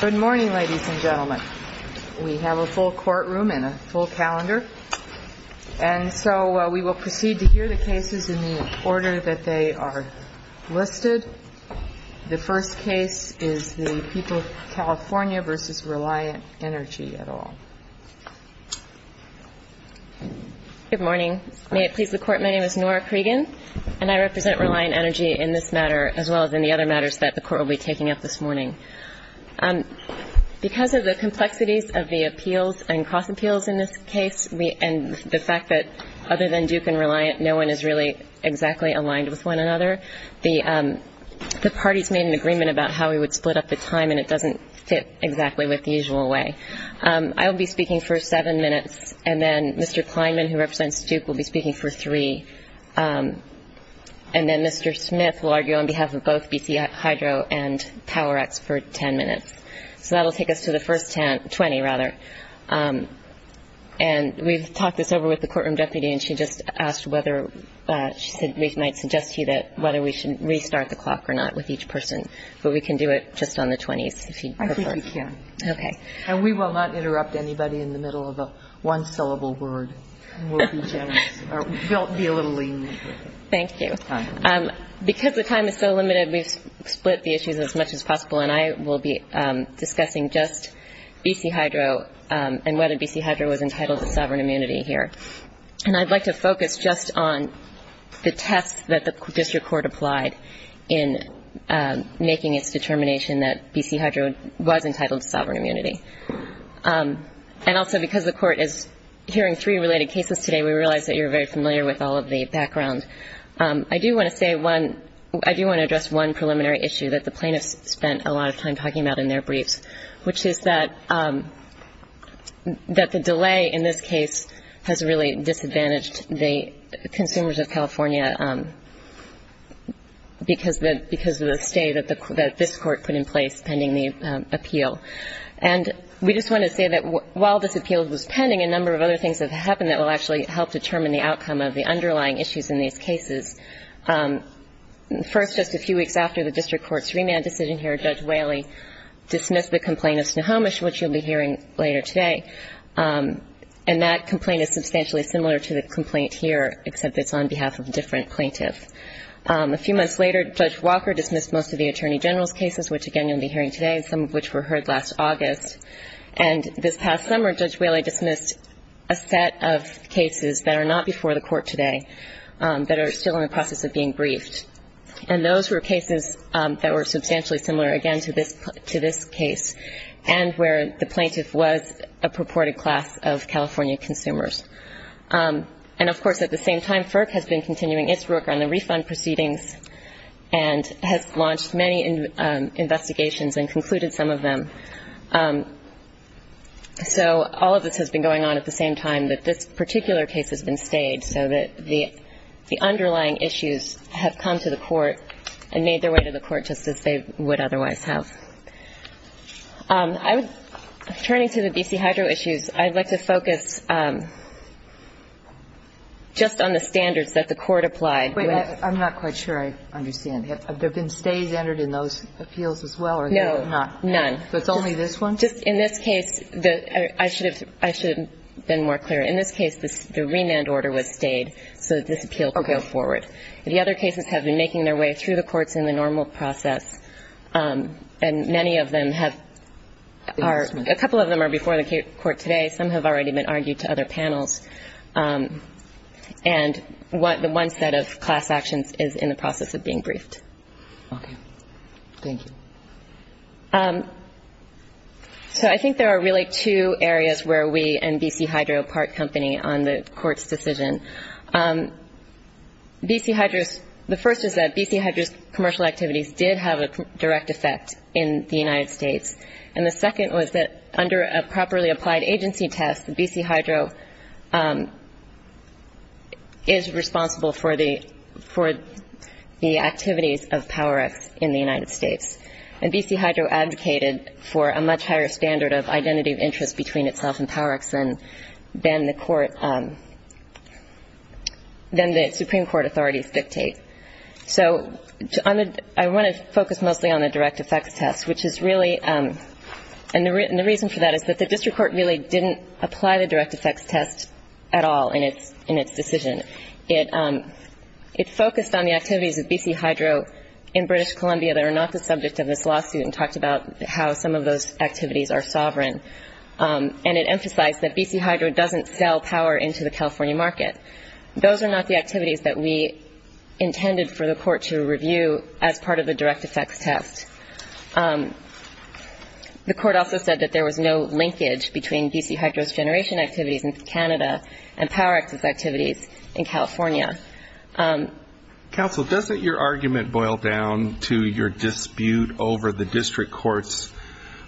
Good morning, ladies and gentlemen. We have a full courtroom and a full calendar. And so we will proceed to hear the cases in the order that they are listed. The first case is the people of California v. Reliant Energy et al. Good morning. May it please the Court, my name is Nora Cregan, and I represent Reliant Energy in this matter as well as in the other matters that the Court will be taking up this morning. Because of the complexities of the appeals and cross appeals in this case and the fact that other than Duke and Reliant, no one is really exactly aligned with one another, the parties made an agreement about how we would split up the time, and it doesn't fit exactly with the usual way. I will be speaking for seven minutes, and then Mr. Kleinman, who represents Duke, will be speaking for three. And then Mr. Smith will argue on behalf of both BC Hydro and PowerX for ten minutes. So that will take us to the first 20, rather. And we've talked this over with the courtroom deputy, and she just asked whether, she said we might suggest to you whether we should restart the clock or not with each person. But we can do it just on the 20s if you prefer. I think we can. Okay. And we will not interrupt anybody in the middle of a one-syllable word. We'll be a little lenient with it. Thank you. Because the time is so limited, we've split the issues as much as possible, and I will be discussing just BC Hydro and whether BC Hydro was entitled to sovereign immunity here. And I'd like to focus just on the test that the district court applied in making its determination that BC Hydro was entitled to sovereign immunity. And also because the court is hearing three related cases today, we realize that you're very familiar with all of the background. I do want to address one preliminary issue that the plaintiffs spent a lot of time talking about in their briefs, which is that the delay in this case has really disadvantaged the consumers of California because of the stay that this court put in place pending the appeal. And we just want to say that while this appeal was pending, a number of other things have happened that will actually help determine the outcome of the underlying issues in these cases. First, just a few weeks after the district court's remand decision here, Judge Whaley dismissed the complaint of Snohomish, which you'll be hearing later today. And that complaint is substantially similar to the complaint here, except it's on behalf of a different plaintiff. A few months later, Judge Walker dismissed most of the attorney general's cases, which, again, you'll be hearing today, some of which were heard last August. And this past summer, Judge Whaley dismissed a set of cases that are not before the court today that are still in the process of being briefed. And those were cases that were substantially similar, again, to this case and where the plaintiff was a purported class of California consumers. And, of course, at the same time, FERC has been continuing its work on the refund proceedings and has launched many investigations and concluded some of them. So all of this has been going on at the same time that this particular case has been stayed so that the underlying issues have come to the court and made their way to the court just as they would otherwise have. Turning to the BC Hydro issues, I'd like to focus just on the standards that the court applied. But I'm not quite sure I understand. Have there been stays entered in those appeals as well? No, none. So it's only this one? Just in this case, I should have been more clear. In this case, the remand order was stayed so that this appeal could go forward. The other cases have been making their way through the courts in the normal process, and many of them have are – a couple of them are before the court today. Some have already been argued to other panels. And the one set of class actions is in the process of being briefed. Okay. Thank you. So I think there are really two areas where we and BC Hydro part company on the court's decision. The first is that BC Hydro's commercial activities did have a direct effect in the United States, and the second was that under a properly applied agency test, BC Hydro is responsible for the activities of PowerX in the United States. And BC Hydro advocated for a much higher standard of identity of interest between itself and PowerX than the Supreme Court authorities dictate. So I want to focus mostly on the direct effects test, which is really – and the reason for that is that the district court really didn't apply the direct effects test at all in its decision. It focused on the activities of BC Hydro in British Columbia that are not the subject of this lawsuit and talked about how some of those activities are sovereign. And it emphasized that BC Hydro doesn't sell Power into the California market. Those are not the activities that we intended for the court to review as part of the direct effects test. The court also said that there was no linkage between BC Hydro's generation activities in Canada and PowerX's activities in California. Counsel, doesn't your argument boil down to your dispute over the district court's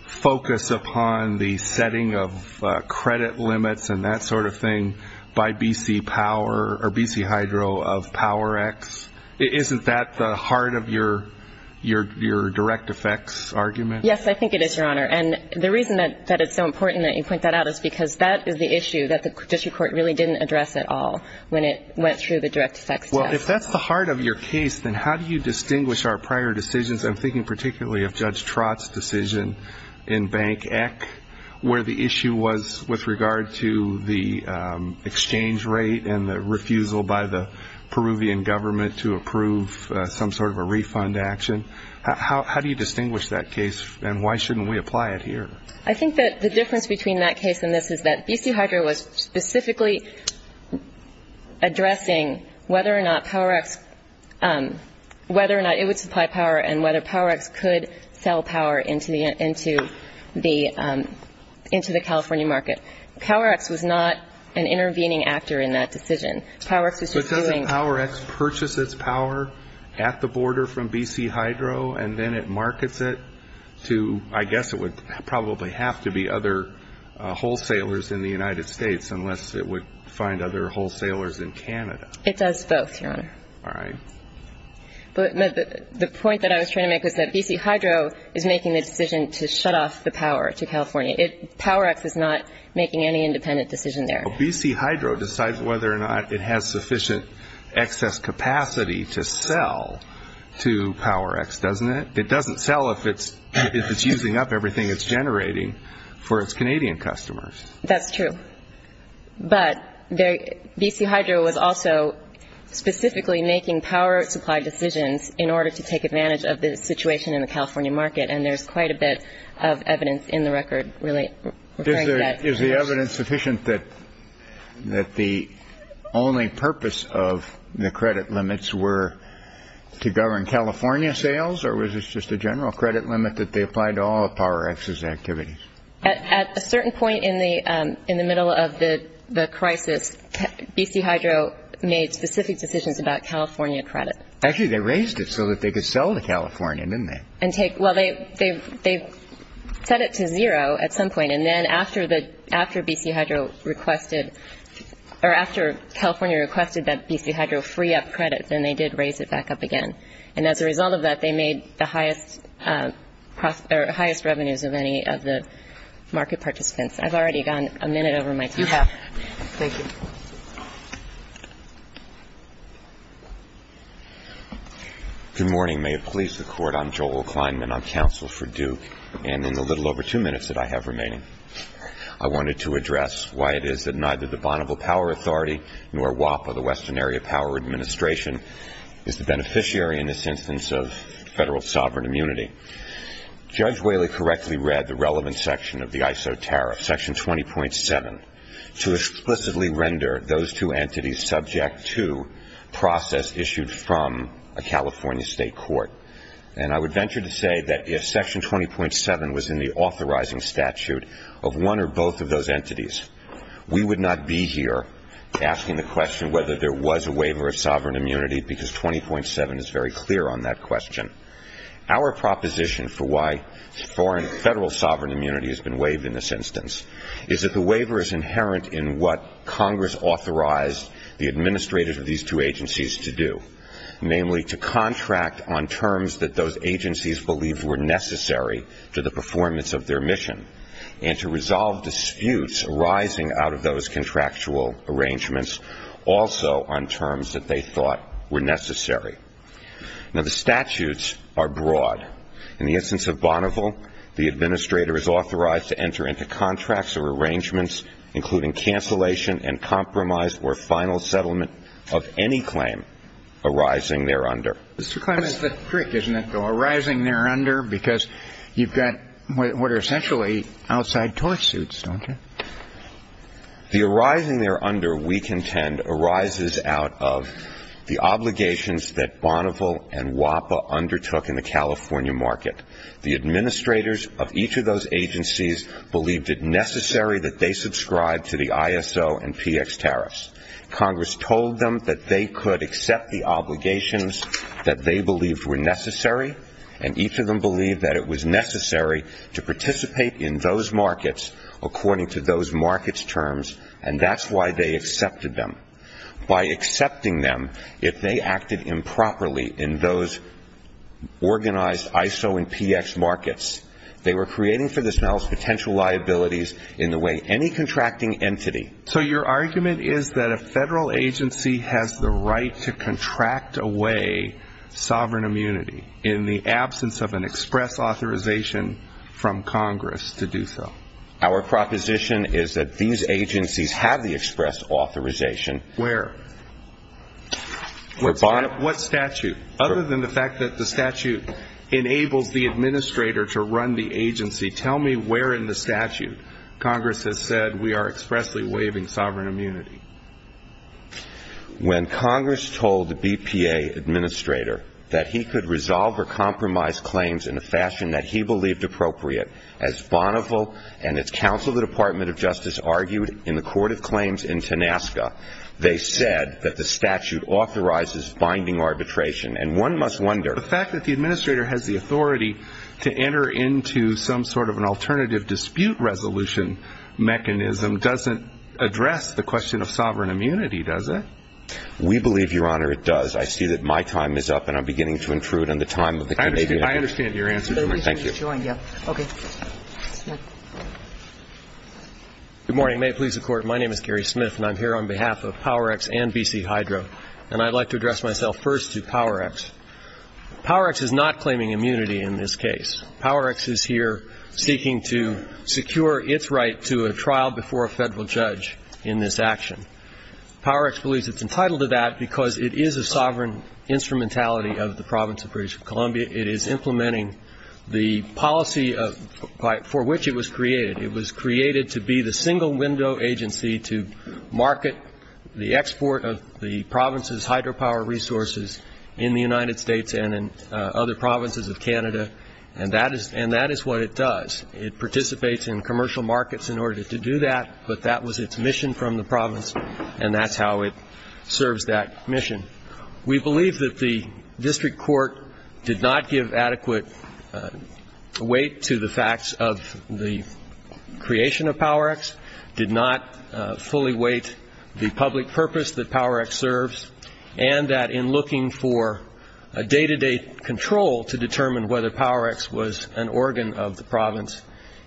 focus upon the setting of credit limits and that sort of thing by BC Power or BC Hydro of PowerX? Isn't that the heart of your direct effects argument? Yes, I think it is, Your Honor. And the reason that it's so important that you point that out is because that is the issue that the district court really didn't address at all when it went through the direct effects test. Well, if that's the heart of your case, then how do you distinguish our prior decisions? I'm thinking particularly of Judge Trott's decision in BankEC where the issue was with regard to the exchange rate and the refusal by the Peruvian government to approve some sort of a refund action. How do you distinguish that case and why shouldn't we apply it here? I think that the difference between that case and this is that BC Hydro was specifically addressing whether or not PowerX, whether or not it would supply power and whether PowerX could sell power into the California market. PowerX was not an intervening actor in that decision. PowerX was just doing – But doesn't PowerX purchase its power at the border from BC Hydro and then it markets it to, I guess, it would probably have to be other wholesalers in the United States unless it would find other wholesalers in Canada. It does both, Your Honor. All right. But the point that I was trying to make was that BC Hydro is making the decision to shut off the power to California. PowerX is not making any independent decision there. Well, BC Hydro decides whether or not it has sufficient excess capacity to sell to PowerX, doesn't it? It doesn't sell if it's using up everything it's generating for its Canadian customers. That's true. But BC Hydro was also specifically making power supply decisions in order to take advantage of the situation in the California market, and there's quite a bit of evidence in the record really referring to that. Is the evidence sufficient that the only purpose of the credit limits were to govern California sales or was this just a general credit limit that they applied to all of PowerX's activities? At a certain point in the middle of the crisis, BC Hydro made specific decisions about California credit. Actually, they raised it so that they could sell to California, didn't they? Well, they set it to zero at some point, and then after California requested that BC Hydro free up credit, then they did raise it back up again. And as a result of that, they made the highest revenues of any of the market participants. I've already gone a minute over my time. You have. Thank you. Good morning. May it please the Court, I'm Joel Kleinman. I'm counsel for Duke, and in the little over two minutes that I have remaining, I wanted to address why it is that neither the Bonneville Power Authority nor WAPA, the Western Area Power Administration, is the beneficiary in this instance of federal sovereign immunity. Judge Whaley correctly read the relevant section of the ISO Tariff, Section 20.7, to explicitly render those two entities subject to process issued from a California state court. And I would venture to say that if Section 20.7 was in the authorizing statute of one or both of those entities, we would not be here asking the question whether there was a waiver of sovereign immunity, because 20.7 is very clear on that question. Our proposition for why foreign federal sovereign immunity has been waived in this instance is that the waiver is inherent in what Congress authorized the administrators of these two agencies to do, namely to contract on terms that those agencies believed were necessary to the performance of their mission, and to resolve disputes arising out of those contractual arrangements also on terms that they thought were necessary. Now, the statutes are broad. In the instance of Bonneville, the administrator is authorized to enter into contracts or arrangements, including cancellation and compromise or final settlement of any claim arising thereunder. The arising thereunder, we contend, arises out of the obligations that Bonneville and WAPA undertook in the California market. The administrators of each of those agencies believed it necessary that they subscribe to the ISO and PX tariffs. Congress told them that they could accept the obligations, but they did not. And each of them believed that it was necessary to participate in those markets according to those markets' terms, and that's why they accepted them. By accepting them, if they acted improperly in those organized ISO and PX markets, they were creating for themselves potential liabilities in the way any contracting entity. So your argument is that a federal agency has the right to contract away sovereign immunity in the absence of an express authorization from Congress to do so? Our proposition is that these agencies have the express authorization. Where? What statute? Other than the fact that the statute enables the administrator to run the agency, tell me where in the statute Congress has said we are expressly waiving sovereign immunity. When Congress told the BPA administrator that he could resolve or compromise claims in a fashion that he believed appropriate, as Bonneville and its counsel, the Department of Justice, argued in the Court of Claims in Tenasca, they said that the statute authorizes binding arbitration. The fact that the administrator has the authority to enter into some sort of an alternative dispute resolution mechanism doesn't address the question of sovereign immunity, does it? We believe, Your Honor, it does. I see that my time is up, and I'm beginning to intrude on the time of the Canadian. I understand your answer. Thank you. Good morning. May it please the Court, my name is Gary Smith, and I'm here on behalf of PowerX and BC Hydro. And I'd like to address myself first to PowerX. PowerX is not claiming immunity in this case. PowerX is here seeking to secure its right to a trial before a federal judge in this action. PowerX believes it's entitled to that because it is a sovereign instrumentality of the Province of British Columbia. It is implementing the policy for which it was created. It was created to be the single window agency to market the export of the Province's hydropower resources in the United States and in other provinces of Canada, and that is what it does. It participates in commercial markets in order to do that, but that was its mission from the Province, and that's how it serves that mission. We believe that the district court did not give adequate weight to the facts of the creation of PowerX, did not fully weight the public purpose that PowerX serves, and that in looking for a day-to-day control to determine whether PowerX was an organ of the Province,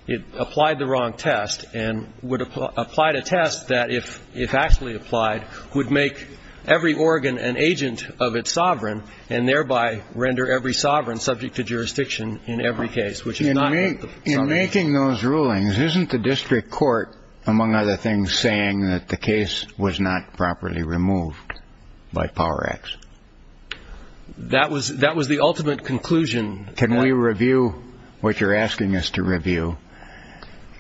it applied the wrong test and applied a test that if actually applied would make every organ an agent of its sovereign and thereby render every sovereign subject to jurisdiction in every case. In making those rulings, isn't the district court, among other things, saying that the case was not properly removed by PowerX? That was the ultimate conclusion. Can we review what you're asking us to review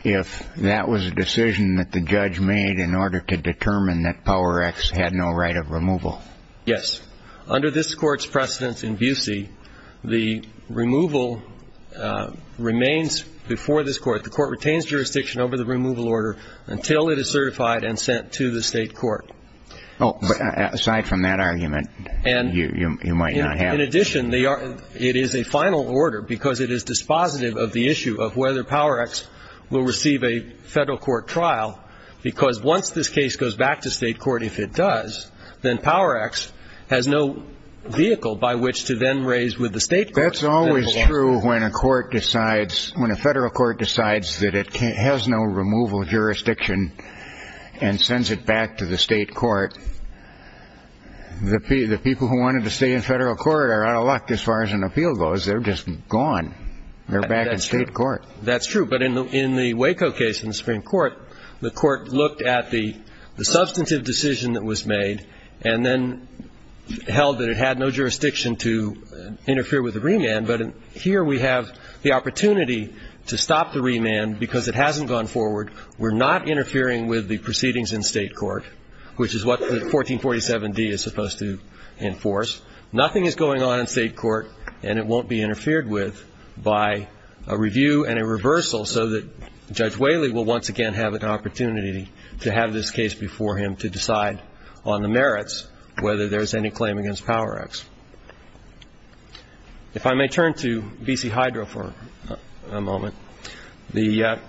if that was a decision that the judge made in order to determine that PowerX had no right of removal? Yes. Under this court's precedence in Busey, the removal remains before this court. The court retains jurisdiction over the removal order until it is certified and sent to the state court. Oh, but aside from that argument, you might not have. In addition, it is a final order because it is dispositive of the issue of whether PowerX will receive a federal court trial because once this case goes back to state court, if it does, then PowerX has no vehicle by which to then raise with the state court. That's always true when a federal court decides that it has no removal jurisdiction and sends it back to the state court. The people who wanted to stay in federal court are out of luck as far as an appeal goes. They're just gone. They're back in state court. That's true. But in the Waco case in the Supreme Court, the court looked at the substantive decision that was made and then held that it had no jurisdiction to interfere with the remand. But here we have the opportunity to stop the remand because it hasn't gone forward. We're not interfering with the proceedings in state court, which is what the 1447D is supposed to enforce. Nothing is going on in state court, and it won't be interfered with by a review and a reversal so that Judge Whaley will once again have an opportunity to have this case before him to decide on the merits, whether there's any claim against PowerX. If I may turn to B.C. Hydro for a moment. Before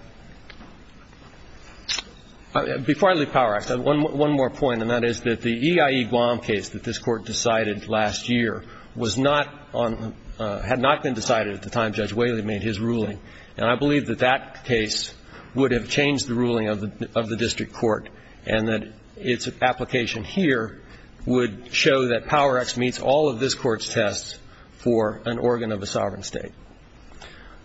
I leave PowerX, one more point, and that is that the EIE Guam case that this court decided last year had not been decided at the time Judge Whaley made his ruling, and I believe that that case would have changed the ruling of the district court and that its application here would show that PowerX meets all of this court's tests for an organ of a sovereign state.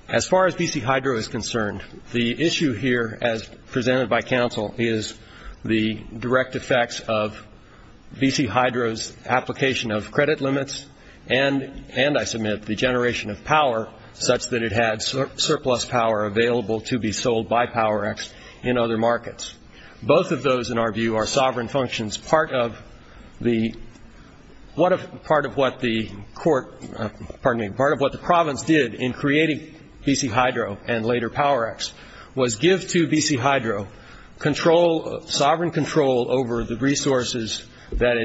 As far as B.C. Hydro is concerned, the issue here, as presented by counsel, is the direct effects of B.C. Hydro's application of credit limits and, I submit, the generation of power, such that it had surplus power available to be sold by PowerX in other markets. Both of those, in our view, are sovereign functions. Part of what the province did in creating B.C. Hydro and later PowerX was give to B.C. Hydro sovereign control over the resources that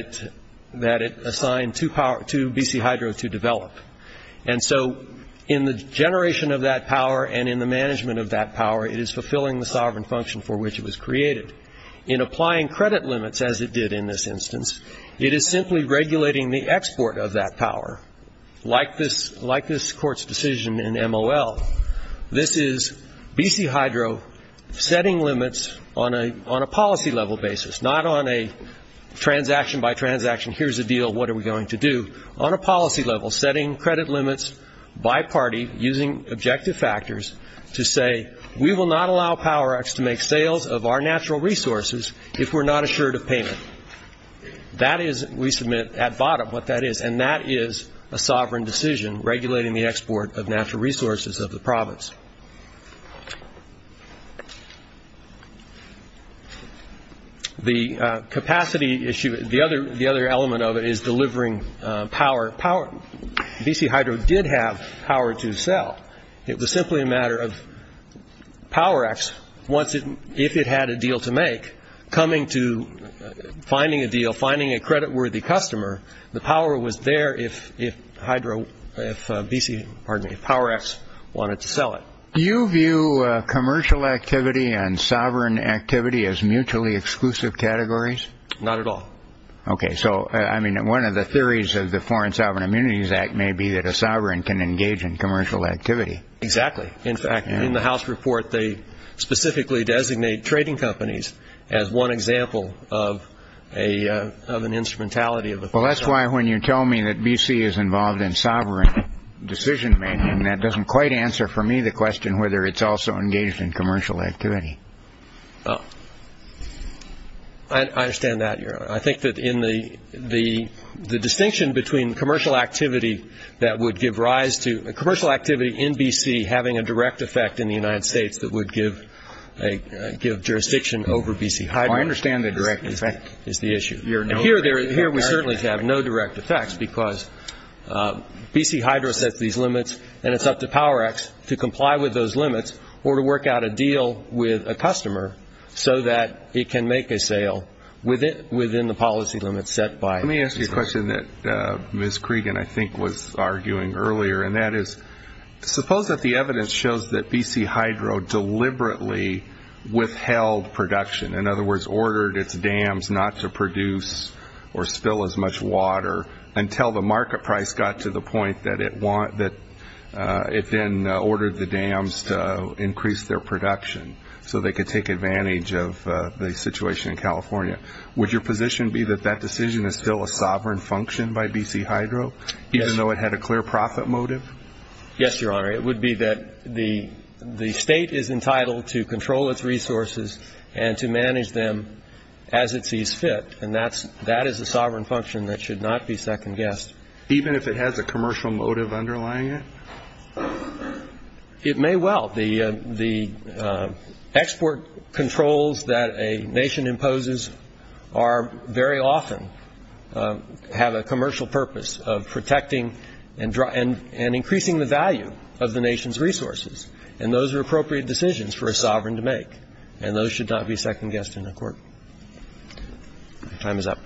it assigned to B.C. Hydro to develop. And so in the generation of that power and in the management of that power, it is fulfilling the sovereign function for which it was created. In applying credit limits, as it did in this instance, it is simply regulating the export of that power. Like this court's decision in M.O.L., this is B.C. Hydro setting limits on a policy-level basis, not on a transaction-by-transaction, here's a deal, what are we going to do? On a policy-level, setting credit limits by party using objective factors to say, we will not allow PowerX to make sales of our natural resources if we're not assured of payment. That is, we submit at bottom what that is, and that is a sovereign decision regulating the export of natural resources of the province. The capacity issue, the other element of it is delivering power. B.C. Hydro did have power to sell. It was simply a matter of PowerX, if it had a deal to make, coming to finding a deal, the power was there if PowerX wanted to sell it. Do you view commercial activity and sovereign activity as mutually exclusive categories? Not at all. Okay, so one of the theories of the Foreign Sovereign Immunities Act may be that a sovereign can engage in commercial activity. Exactly. In fact, in the House report, they specifically designate trading companies as one example of an instrumentality of authority. Well, that's why when you tell me that B.C. is involved in sovereign decision-making, that doesn't quite answer for me the question whether it's also engaged in commercial activity. I understand that, Your Honor. I think that the distinction between commercial activity in B.C. having a direct effect in the United States that would give jurisdiction over B.C. Hydro is the issue. Here we certainly have no direct effects because B.C. Hydro sets these limits, and it's up to PowerX to comply with those limits or to work out a deal with a customer so that it can make a sale within the policy limits set by B.C. Hydro. Let me ask you a question that Ms. Cregan, I think, was arguing earlier, and that is suppose that the evidence shows that B.C. Hydro deliberately withheld production, in other words, ordered its dams not to produce or spill as much water until the market price got to the point that it then ordered the dams to increase their production so they could take advantage of the situation in California. Would your position be that that decision is still a sovereign function by B.C. Hydro, even though it had a clear profit motive? Yes, Your Honor. It would be that the State is entitled to control its resources and to manage them as it sees fit, and that is a sovereign function that should not be second-guessed. Even if it has a commercial motive underlying it? It may well. The export controls that a nation imposes are very often have a commercial purpose of protecting and increasing the value of the nation's resources, and those are appropriate decisions for a sovereign to make, and those should not be second-guessed in a court. My time is up.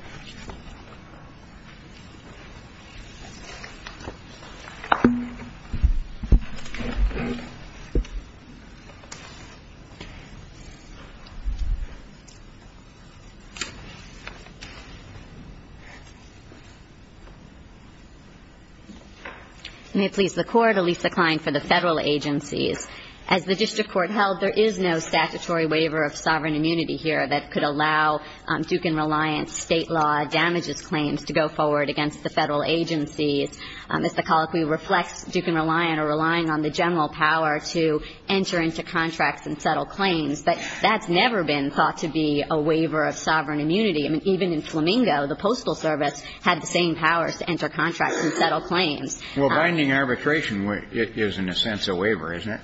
May it please the Court, Alisa Klein for the Federal Agencies. As the district court held, there is no statutory waiver of sovereign immunity here that could allow Duke and Reliant's state law damages claims to go forward against the Federal Agencies. As the colloquy reflects, Duke and Reliant are relying on the general power to enter into contracts and settle claims, but that's never been thought to be a waiver of sovereign immunity. I mean, even in Flamingo, the Postal Service had the same powers to enter contracts and settle claims. Well, binding arbitration is in a sense a waiver, isn't it?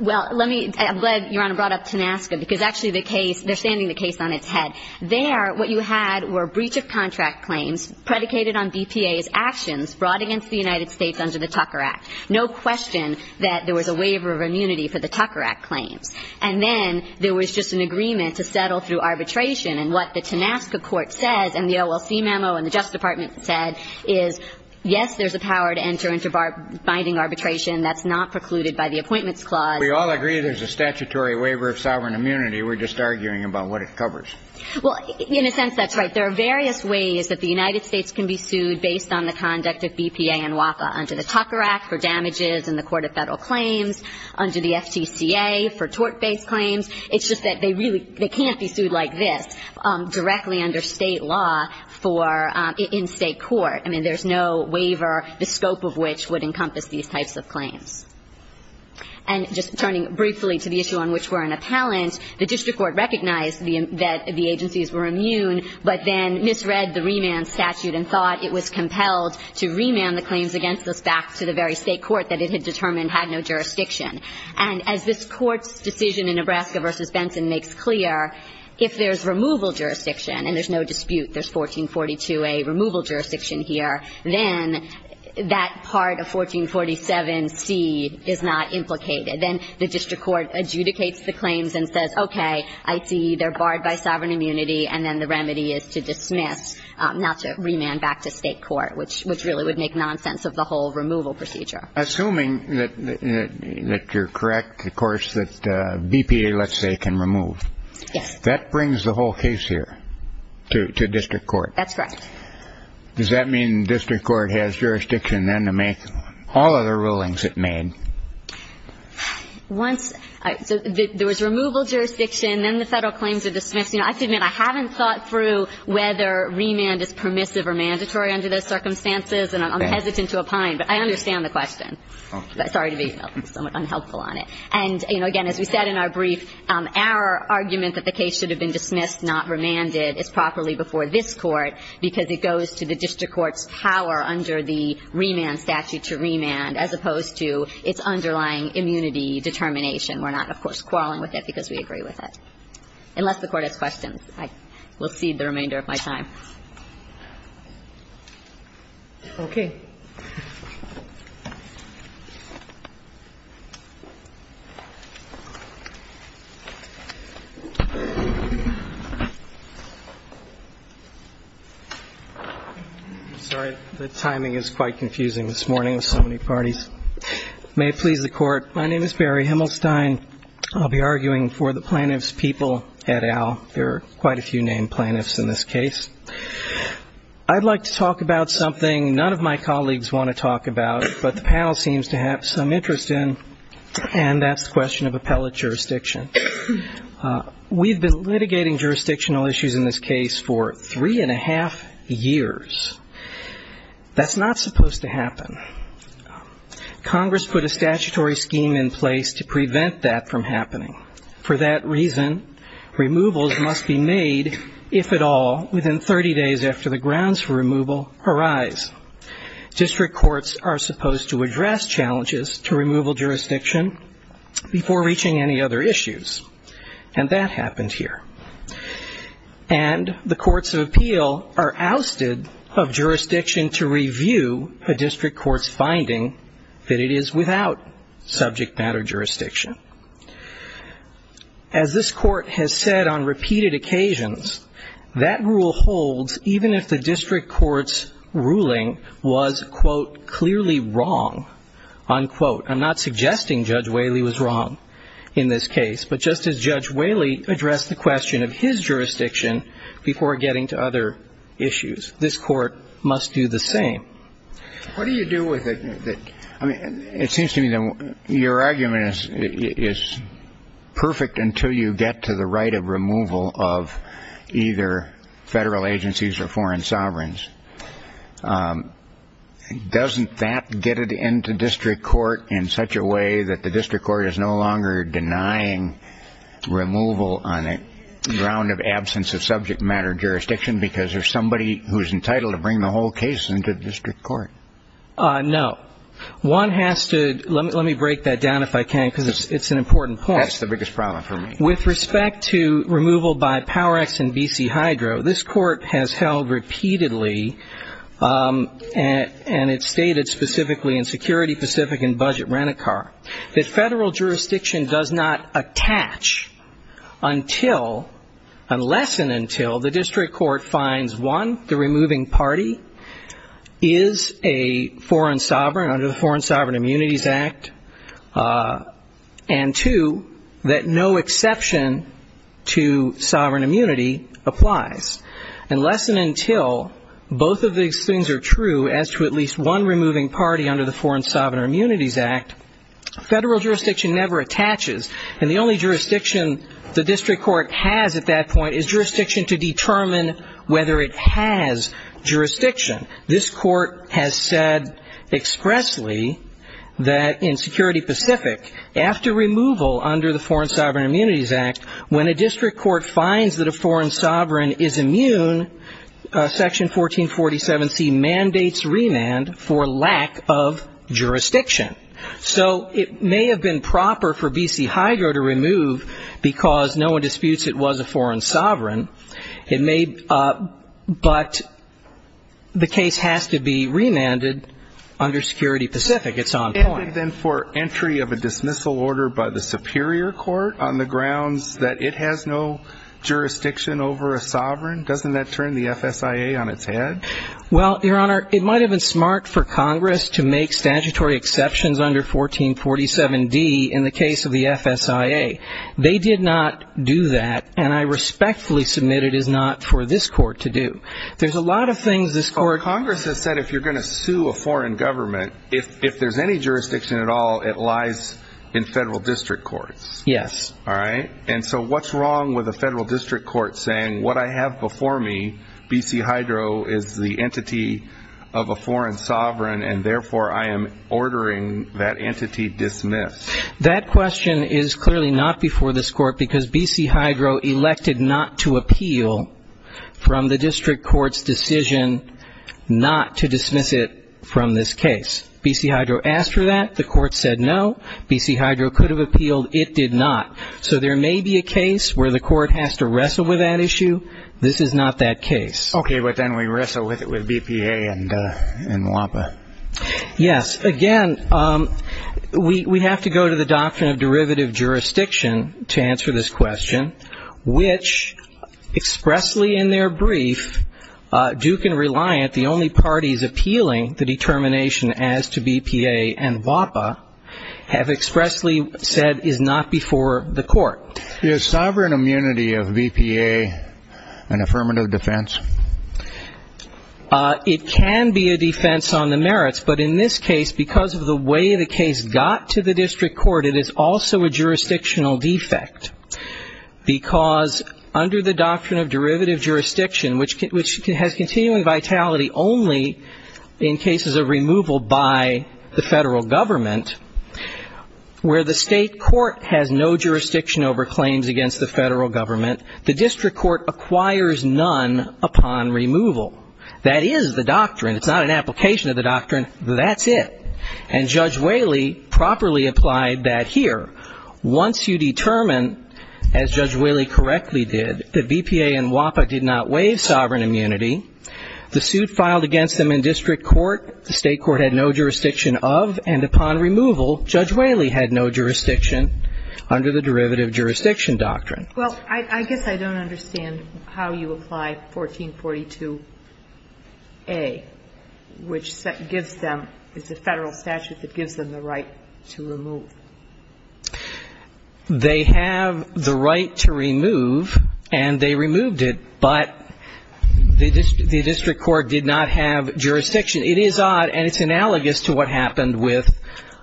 Well, let me – I'm glad Your Honor brought up TANASCA, because actually the case – they're standing the case on its head. There, what you had were breach of contract claims predicated on BPA's actions brought against the United States under the Tucker Act. No question that there was a waiver of immunity for the Tucker Act claims. And then there was just an agreement to settle through arbitration, and what the TANASCA court says and the OLC memo and the Justice Department said is, yes, there's a power to enter into binding arbitration. That's not precluded by the Appointments Clause. We all agree there's a statutory waiver of sovereign immunity. We're just arguing about what it covers. Well, in a sense, that's right. There are various ways that the United States can be sued based on the conduct of BPA and WACA, under the Tucker Act for damages in the court of Federal claims, under the FTCA for tort-based claims. It's just that they really – they can't be sued like this directly under State law for – in State court. I mean, there's no waiver, the scope of which would encompass these types of claims. And just turning briefly to the issue on which we're an appellant, the district court recognized that the agencies were immune, but then misread the remand statute and thought it was compelled to remand the claims against us back to the very State court that it had determined had no jurisdiction. And as this Court's decision in Nebraska v. Benson makes clear, if there's removal jurisdiction and there's no dispute, there's 1442A, removal jurisdiction here, then that part of 1447C is not implicated. Then the district court adjudicates the claims and says, okay, I see they're barred by sovereign immunity, and then the remedy is to dismiss, not to remand back to State court, which really would make nonsense of the whole removal procedure. Assuming that you're correct, of course, that BPA, let's say, can remove. Yes. That brings the whole case here to district court. That's correct. Does that mean district court has jurisdiction then to make all of the rulings it made? Once – so there was removal jurisdiction, then the Federal claims are dismissed. You know, I have to admit I haven't thought through whether remand is permissive or mandatory under those circumstances, and I'm hesitant to opine, but I understand the question. Sorry to be somewhat unhelpful on it. And, you know, again, as we said in our brief, our argument that the case should have been dismissed, not remanded, is properly before this Court because it goes to the district court's power under the remand statute to remand as opposed to its underlying immunity determination. We're not, of course, quarreling with it because we agree with it. Unless the Court has questions, I will cede the remainder of my time. Okay. I'm sorry. The timing is quite confusing this morning with so many parties. May it please the Court, my name is Barry Himmelstein. I'll be arguing for the plaintiffs' people at Al. There are quite a few named plaintiffs in this case. I'd like to talk about something none of my colleagues want to talk about, but the panel seems to have some interest in, and that's the question of appellate jurisdiction. We've been litigating jurisdictional issues in this case for three and a half years. That's not supposed to happen. Congress put a statutory scheme in place to prevent that from happening. For that reason, removals must be made, if at all, within 30 days after the grounds for removal arise. District courts are supposed to address challenges to removal jurisdiction before reaching any other issues, and that happened here. And the courts of appeal are ousted of jurisdiction to review a district court's finding that it is without subject matter As this Court has said on repeated occasions, that rule holds even if the district court's ruling was, quote, clearly wrong, unquote. I'm not suggesting Judge Whaley was wrong in this case, but just as Judge Whaley addressed the question of his jurisdiction before getting to other issues, this Court must do the same. What do you do with it? I mean, it seems to me that your argument is perfect until you get to the right of removal of either federal agencies or foreign sovereigns. Doesn't that get it into district court in such a way that the district court is no longer denying removal on the ground of absence of subject matter jurisdiction because there's somebody who's entitled to bring the whole case into the district court? No. One has to, let me break that down if I can, because it's an important point. That's the biggest problem for me. With respect to removal by Power-X and B.C. Hydro, this Court has held repeatedly, and it's stated specifically in Security Pacific and Budget Rent-A-Car, that federal jurisdiction does not attach unless and until the district court finds, one, the removing party is a foreign sovereign under the Foreign Sovereign Immunities Act, and two, that no exception to sovereign immunity applies. Unless and until both of these things are true as to at least one removing party under the Foreign Sovereign Immunities Act, federal jurisdiction never attaches, and the only jurisdiction the district court has at that point is jurisdiction to determine whether it has jurisdiction. This Court has said expressly that in Security Pacific, after removal under the Foreign Sovereign Immunities Act, when a district court finds that a foreign sovereign is immune, Section 1447C mandates remand for lack of jurisdiction. So it may have been proper for B.C. Hydro to remove because no one disputes it was a foreign sovereign, but the case has to be remanded under Security Pacific. It's on point. of a dismissal order by the Superior Court on the grounds that it has no jurisdiction over a sovereign? Doesn't that turn the FSIA on its head? Well, Your Honor, it might have been smart for Congress to make statutory exceptions under 1447D in the case of the FSIA. They did not do that, and I respectfully submit it is not for this Court to do. There's a lot of things this Court can do. it lies in federal district courts? Yes. All right. And so what's wrong with a federal district court saying what I have before me, B.C. Hydro, is the entity of a foreign sovereign, and therefore I am ordering that entity dismissed? That question is clearly not before this Court because B.C. Hydro elected not to appeal from the district court's decision not to dismiss it from this case. B.C. Hydro asked for that. The Court said no. B.C. Hydro could have appealed. It did not. So there may be a case where the Court has to wrestle with that issue. This is not that case. Okay, but then we wrestle with BPA and WAPA. Yes. Again, we have to go to the doctrine of derivative jurisdiction to answer this question, which expressly in their brief, Duke and Reliant, the only parties appealing the determination as to BPA and WAPA, have expressly said is not before the Court. Is sovereign immunity of BPA an affirmative defense? It can be a defense on the merits, but in this case because of the way the case got to the district court, it is also a jurisdictional defect because under the doctrine of derivative jurisdiction, which has continuing vitality only in cases of removal by the federal government, where the state court has no jurisdiction over claims against the federal government, the district court acquires none upon removal. That is the doctrine. It's not an application of the doctrine. That's it. And Judge Whaley properly applied that here. Once you determine, as Judge Whaley correctly did, that BPA and WAPA did not waive sovereign immunity, the suit filed against them in district court, the state court had no jurisdiction of, and upon removal, Judge Whaley had no jurisdiction under the derivative jurisdiction doctrine. Well, I guess I don't understand how you apply 1442A, which gives them, it's a federal statute that gives them the right to remove. They have the right to remove, and they removed it, but the district court did not have jurisdiction. It is odd, and it's analogous to what happened with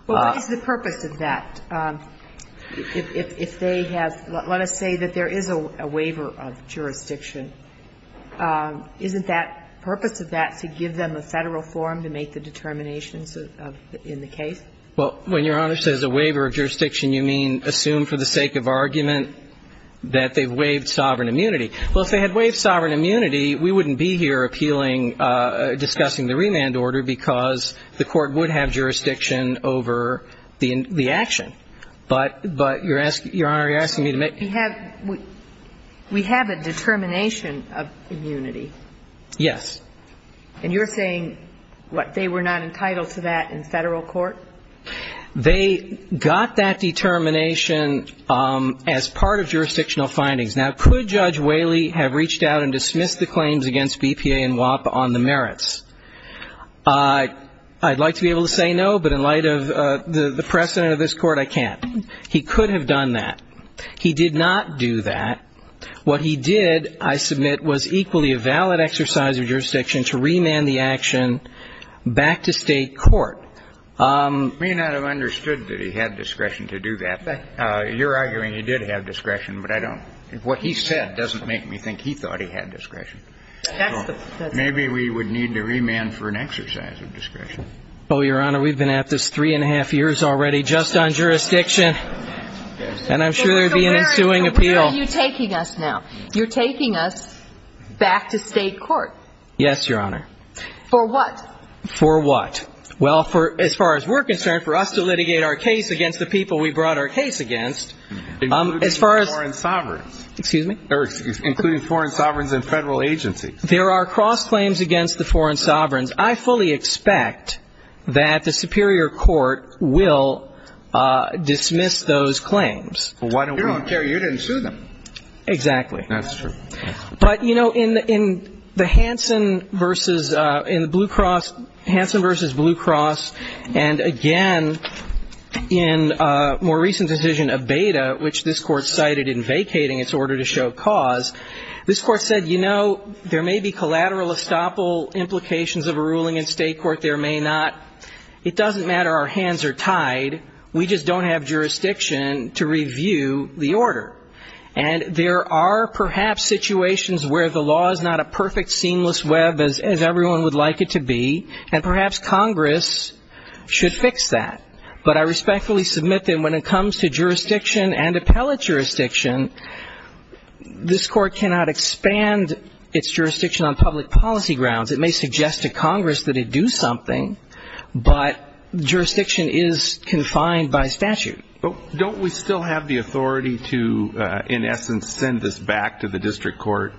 the purpose of that. If they have, let us say that there is a waiver of jurisdiction. Isn't that purpose of that to give them a federal form to make the determinations in the case? Well, when Your Honor says a waiver of jurisdiction, you mean assume for the sake of argument that they've waived sovereign immunity. Well, if they had waived sovereign immunity, we wouldn't be here appealing, discussing the remand order, because the court would have jurisdiction over the action. But Your Honor, you're asking me to make. We have a determination of immunity. Yes. And you're saying, what, they were not entitled to that in federal court? They got that determination as part of jurisdictional findings. Now, could Judge Whaley have reached out and dismissed the claims against BPA and WAPA on the merits? I'd like to be able to say no, but in light of the precedent of this court, I can't. He could have done that. He did not do that. What he did, I submit, was equally a valid exercise of jurisdiction to remand the action back to state court. May not have understood that he had discretion to do that. You're arguing he did have discretion, but I don't. What he said doesn't make me think he thought he had discretion. Maybe we would need to remand for an exercise of discretion. Oh, Your Honor, we've been at this three and a half years already, just on jurisdiction. And I'm sure there would be an ensuing appeal. So where are you taking us now? You're taking us back to state court. Yes, Your Honor. For what? For what? Well, as far as we're concerned, for us to litigate our case against the people we brought our case against, as far as ‑‑ Including foreign sovereigns. Excuse me? Including foreign sovereigns and federal agencies. There are cross-claims against the foreign sovereigns. I fully expect that the superior court will dismiss those claims. You don't care. You didn't sue them. Exactly. That's true. But, you know, in the Hansen versus ‑‑ in the Blue Cross, Hansen versus Blue Cross, and again in a more recent decision of Beda, which this Court cited in vacating its order to show cause, this Court said, you know, there may be collateral estoppel implications of a ruling in state court. There may not. It doesn't matter. Our hands are tied. We just don't have jurisdiction to review the order. And there are perhaps situations where the law is not a perfect seamless web, as everyone would like it to be, and perhaps Congress should fix that. But I respectfully submit that when it comes to jurisdiction and appellate jurisdiction, this Court cannot expand its jurisdiction on public policy grounds. It may suggest to Congress that it do something, but jurisdiction is confined by statute. Don't we still have the authority to, in essence, send this back to the district court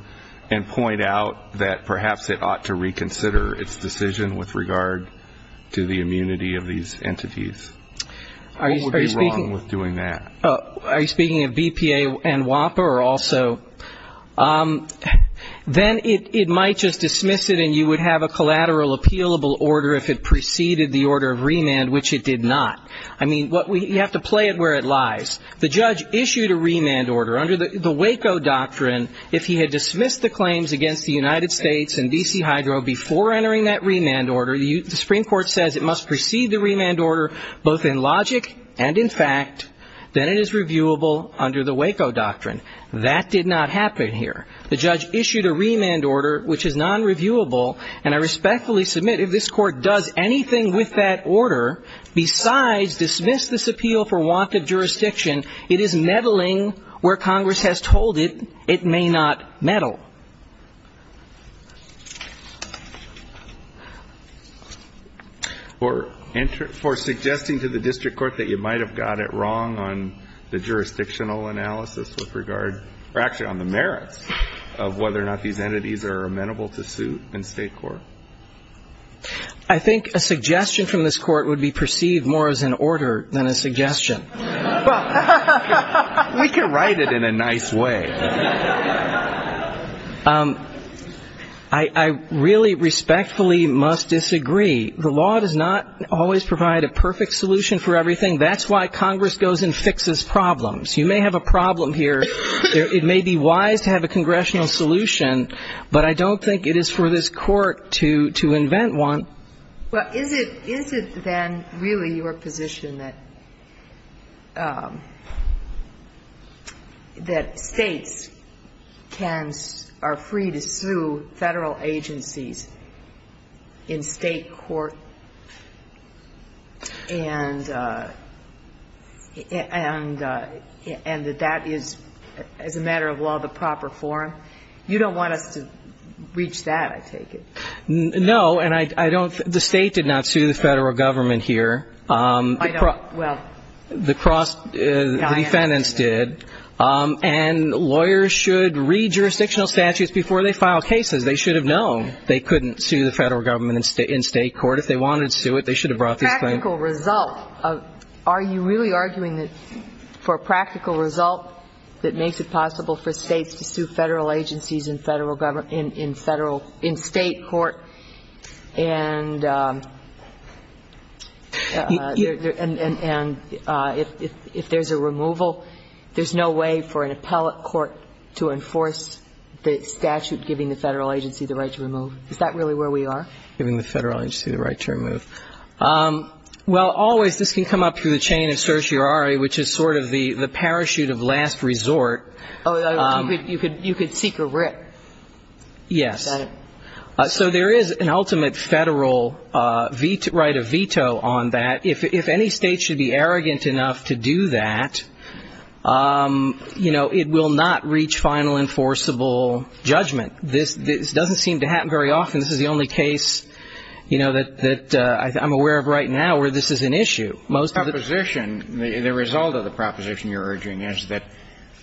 and point out that perhaps it ought to reconsider its decision with regard to the immunity of these entities? What would be wrong with doing that? Are you speaking of BPA and WAPA or also? Then it might just dismiss it and you would have a collateral appealable order if it preceded the order of remand, which it did not. I mean, you have to play it where it lies. The judge issued a remand order under the Waco Doctrine. If he had dismissed the claims against the United States and D.C. Hydro before entering that remand order, the Supreme Court says it must precede the remand order both in logic and in fact. Then it is reviewable under the Waco Doctrine. That did not happen here. The judge issued a remand order, which is nonreviewable, And I respectfully submit if this Court does anything with that order besides dismiss this appeal for want of jurisdiction, it is meddling where Congress has told it it may not meddle. For suggesting to the district court that you might have got it wrong on the jurisdictional analysis with regard or actually on the merits of whether or not these entities are amenable to suit in state court. I think a suggestion from this Court would be perceived more as an order than a suggestion. We can write it in a nice way. I really respectfully must disagree. The law does not always provide a perfect solution for everything. That's why Congress goes and fixes problems. You may have a problem here. It may be wise to have a congressional solution, but I don't think it is for this Court to invent one. Well, is it then really your position that states can or are free to sue Federal agencies in state court, and that that is, as a matter of law, the proper form? You don't want us to reach that, I take it. No, and I don't think the State did not sue the Federal Government here. I don't, well. The defendant's did. And lawyers should read jurisdictional statutes before they file cases. They should have known they couldn't sue the Federal Government in state court. If they wanted to sue it, they should have brought this claim. Practical result. Are you really arguing that for a practical result that makes it possible for states to sue Federal agencies in Federal government, in Federal, in state court, and if there's a removal, there's no way for an appellate court to enforce the statute giving the Federal agency the right to remove? Is that really where we are? Giving the Federal agency the right to remove. Well, always this can come up through the chain of certiorari, which is sort of the parachute of last resort. Oh, you could seek a writ. Yes. Got it. So there is an ultimate Federal veto, right, a veto on that. If any state should be arrogant enough to do that, you know, it will not reach final enforceable judgment. This doesn't seem to happen very often. This is the only case, you know, that I'm aware of right now where this is an issue. Most of the time. The proposition, the result of the proposition you're urging is that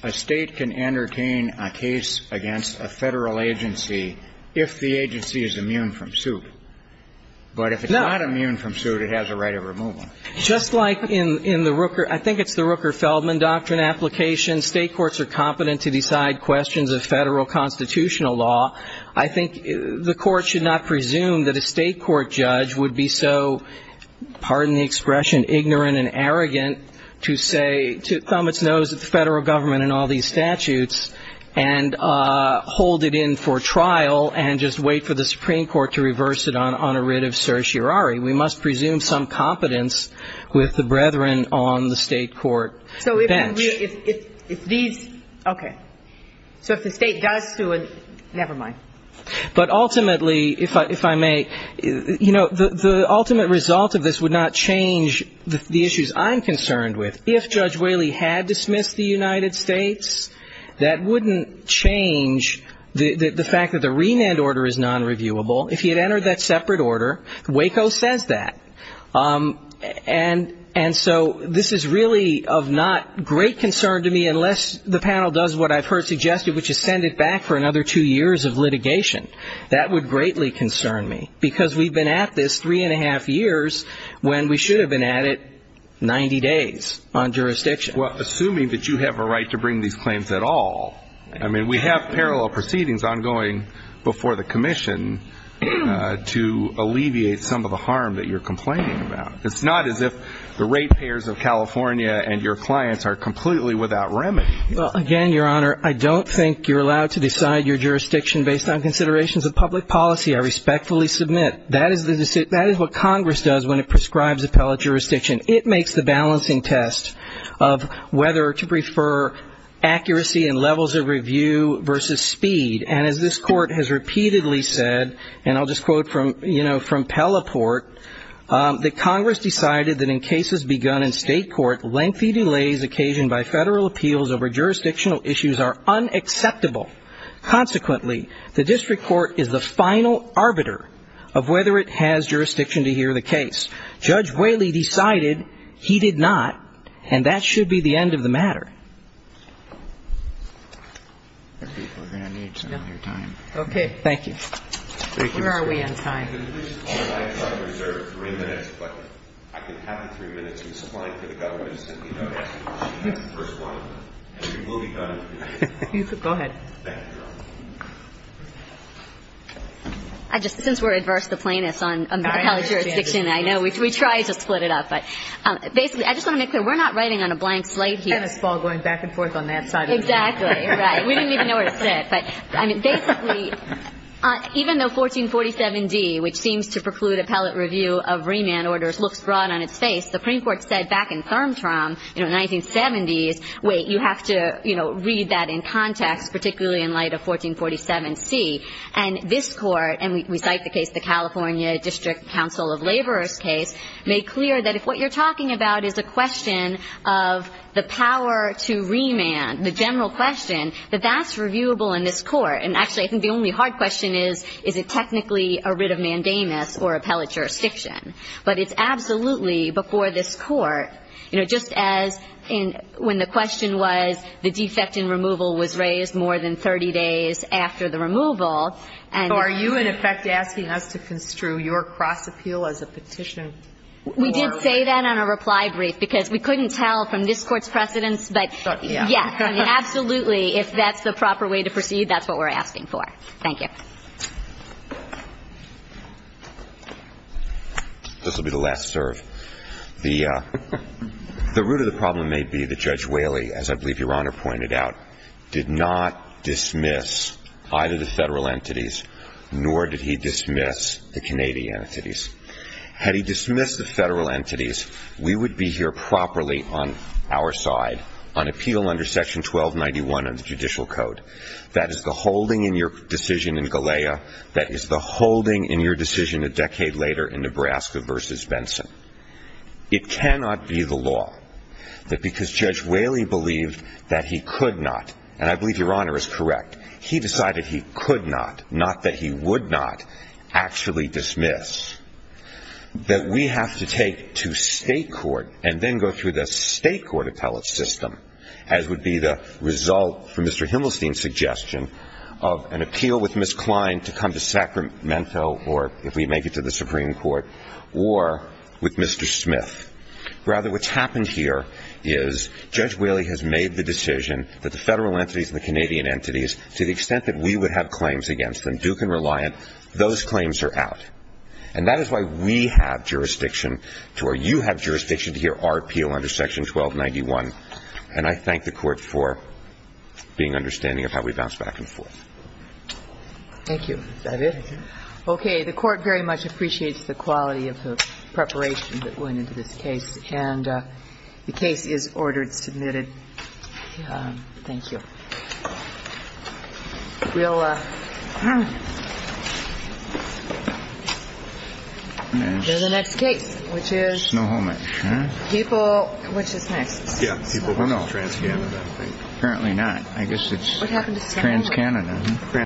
a state can entertain a case against a Federal agency if the agency is immune from suit. No. If it's not immune from suit, it has a right of removal. Just like in the Rooker, I think it's the Rooker-Feldman doctrine application, state courts are competent to decide questions of Federal constitutional law. I think the court should not presume that a state court judge would be so, pardon the expression, ignorant and arrogant to say, to thumb its nose at the Federal government and all these statutes and hold it in for trial and just wait for the jury. We must presume some competence with the brethren on the state court bench. So if these, okay. So if the state does sue it, never mind. But ultimately, if I may, you know, the ultimate result of this would not change the issues I'm concerned with. If Judge Whaley had dismissed the United States, that wouldn't change the fact that the renand order is nonreviewable. If he had entered that separate order, Waco says that. And so this is really of not great concern to me unless the panel does what I've heard suggested, which is send it back for another two years of litigation. That would greatly concern me, because we've been at this three and a half years when we should have been at it 90 days on jurisdiction. Well, assuming that you have a right to bring these claims at all. I mean, we have parallel proceedings ongoing before the commission to alleviate some of the harm that you're complaining about. It's not as if the rate payers of California and your clients are completely without remedy. Well, again, Your Honor, I don't think you're allowed to decide your jurisdiction based on considerations of public policy. I respectfully submit that is what Congress does when it prescribes appellate jurisdiction. It makes the balancing test of whether to prefer accuracy in levels of review versus speed. And as this court has repeatedly said, and I'll just quote from, you know, from Pelleport, that Congress decided that in cases begun in state court, lengthy delays occasioned by federal appeals over jurisdictional issues are unacceptable. Consequently, the district court is the final arbiter of whether it has jurisdiction to hear the case. Judge Whaley decided he did not, and that should be the end of the matter. Okay. Thank you. Where are we on time? Go ahead. Since we're adverse to plaintiffs on appellate jurisdiction, I know, we try to split it up. But basically, I just want to make clear, we're not writing on a blank slate here. And it's all going back and forth on that side of the room. Exactly, right. We didn't even know where to sit. But, I mean, basically, even though 1447D, which seems to preclude appellate review of remand orders, looks broad on its face, the Supreme Court said back in Thurmtrom, you know, 1970s, wait, you have to, you know, read that in context, particularly in light of 1447C. And this Court, and we cite the case, the California District Council of Laborers case, made clear that if what you're talking about is a question of the power to remand, the general question, that that's reviewable in this Court. And actually, I think the only hard question is, is it technically a writ of mandamus or appellate jurisdiction? But it's absolutely before this Court. You know, just as when the question was the defect in removal was raised more than 30 days after the removal. So are you, in effect, asking us to construe your cross-appeal as a petition? We did say that on a reply brief, because we couldn't tell from this Court's precedence, but, yes. Absolutely. If that's the proper way to proceed, that's what we're asking for. Thank you. This will be the last serve. The root of the problem may be that Judge Whaley, as I believe Your Honor pointed out, did not dismiss either the Federal entities, nor did he dismiss the Canadian entities. Had he dismissed the Federal entities, we would be here properly on our side on appeal under Section 1291 of the Judicial Code. That is the holding in your decision in Galea. That is the holding in your decision a decade later in Nebraska v. Benson. It cannot be the law that because Judge Whaley believed that he could not, and I believe Your Honor is correct, he decided he could not, not that he would not, actually dismiss, that we have to take to State court and then go through the State court appellate system, as would be the result from Mr. Himmelstein's suggestion of an appeal with Ms. Klein to come to Sacramento or, if we make it to the Supreme Court, or with Mr. Smith. Rather, what's happened here is Judge Whaley has made the decision that the Federal entities and the Canadian entities, to the extent that we would have claims against them, Duke and Reliant, those claims are out. And that is why we have jurisdiction to, or you have jurisdiction to hear our appeal under Section 1291. And I thank the Court for being understanding of how we bounce back and forth. Thank you. Is that it? Okay. The Court very much appreciates the quality of the preparation that went into this case, and the case is ordered, submitted. Thank you. We'll go to the next case, which is... Snohomish. People... Which is next? Yeah. People from TransCanada. I guess it's TransCanada. What happened to Snohomish?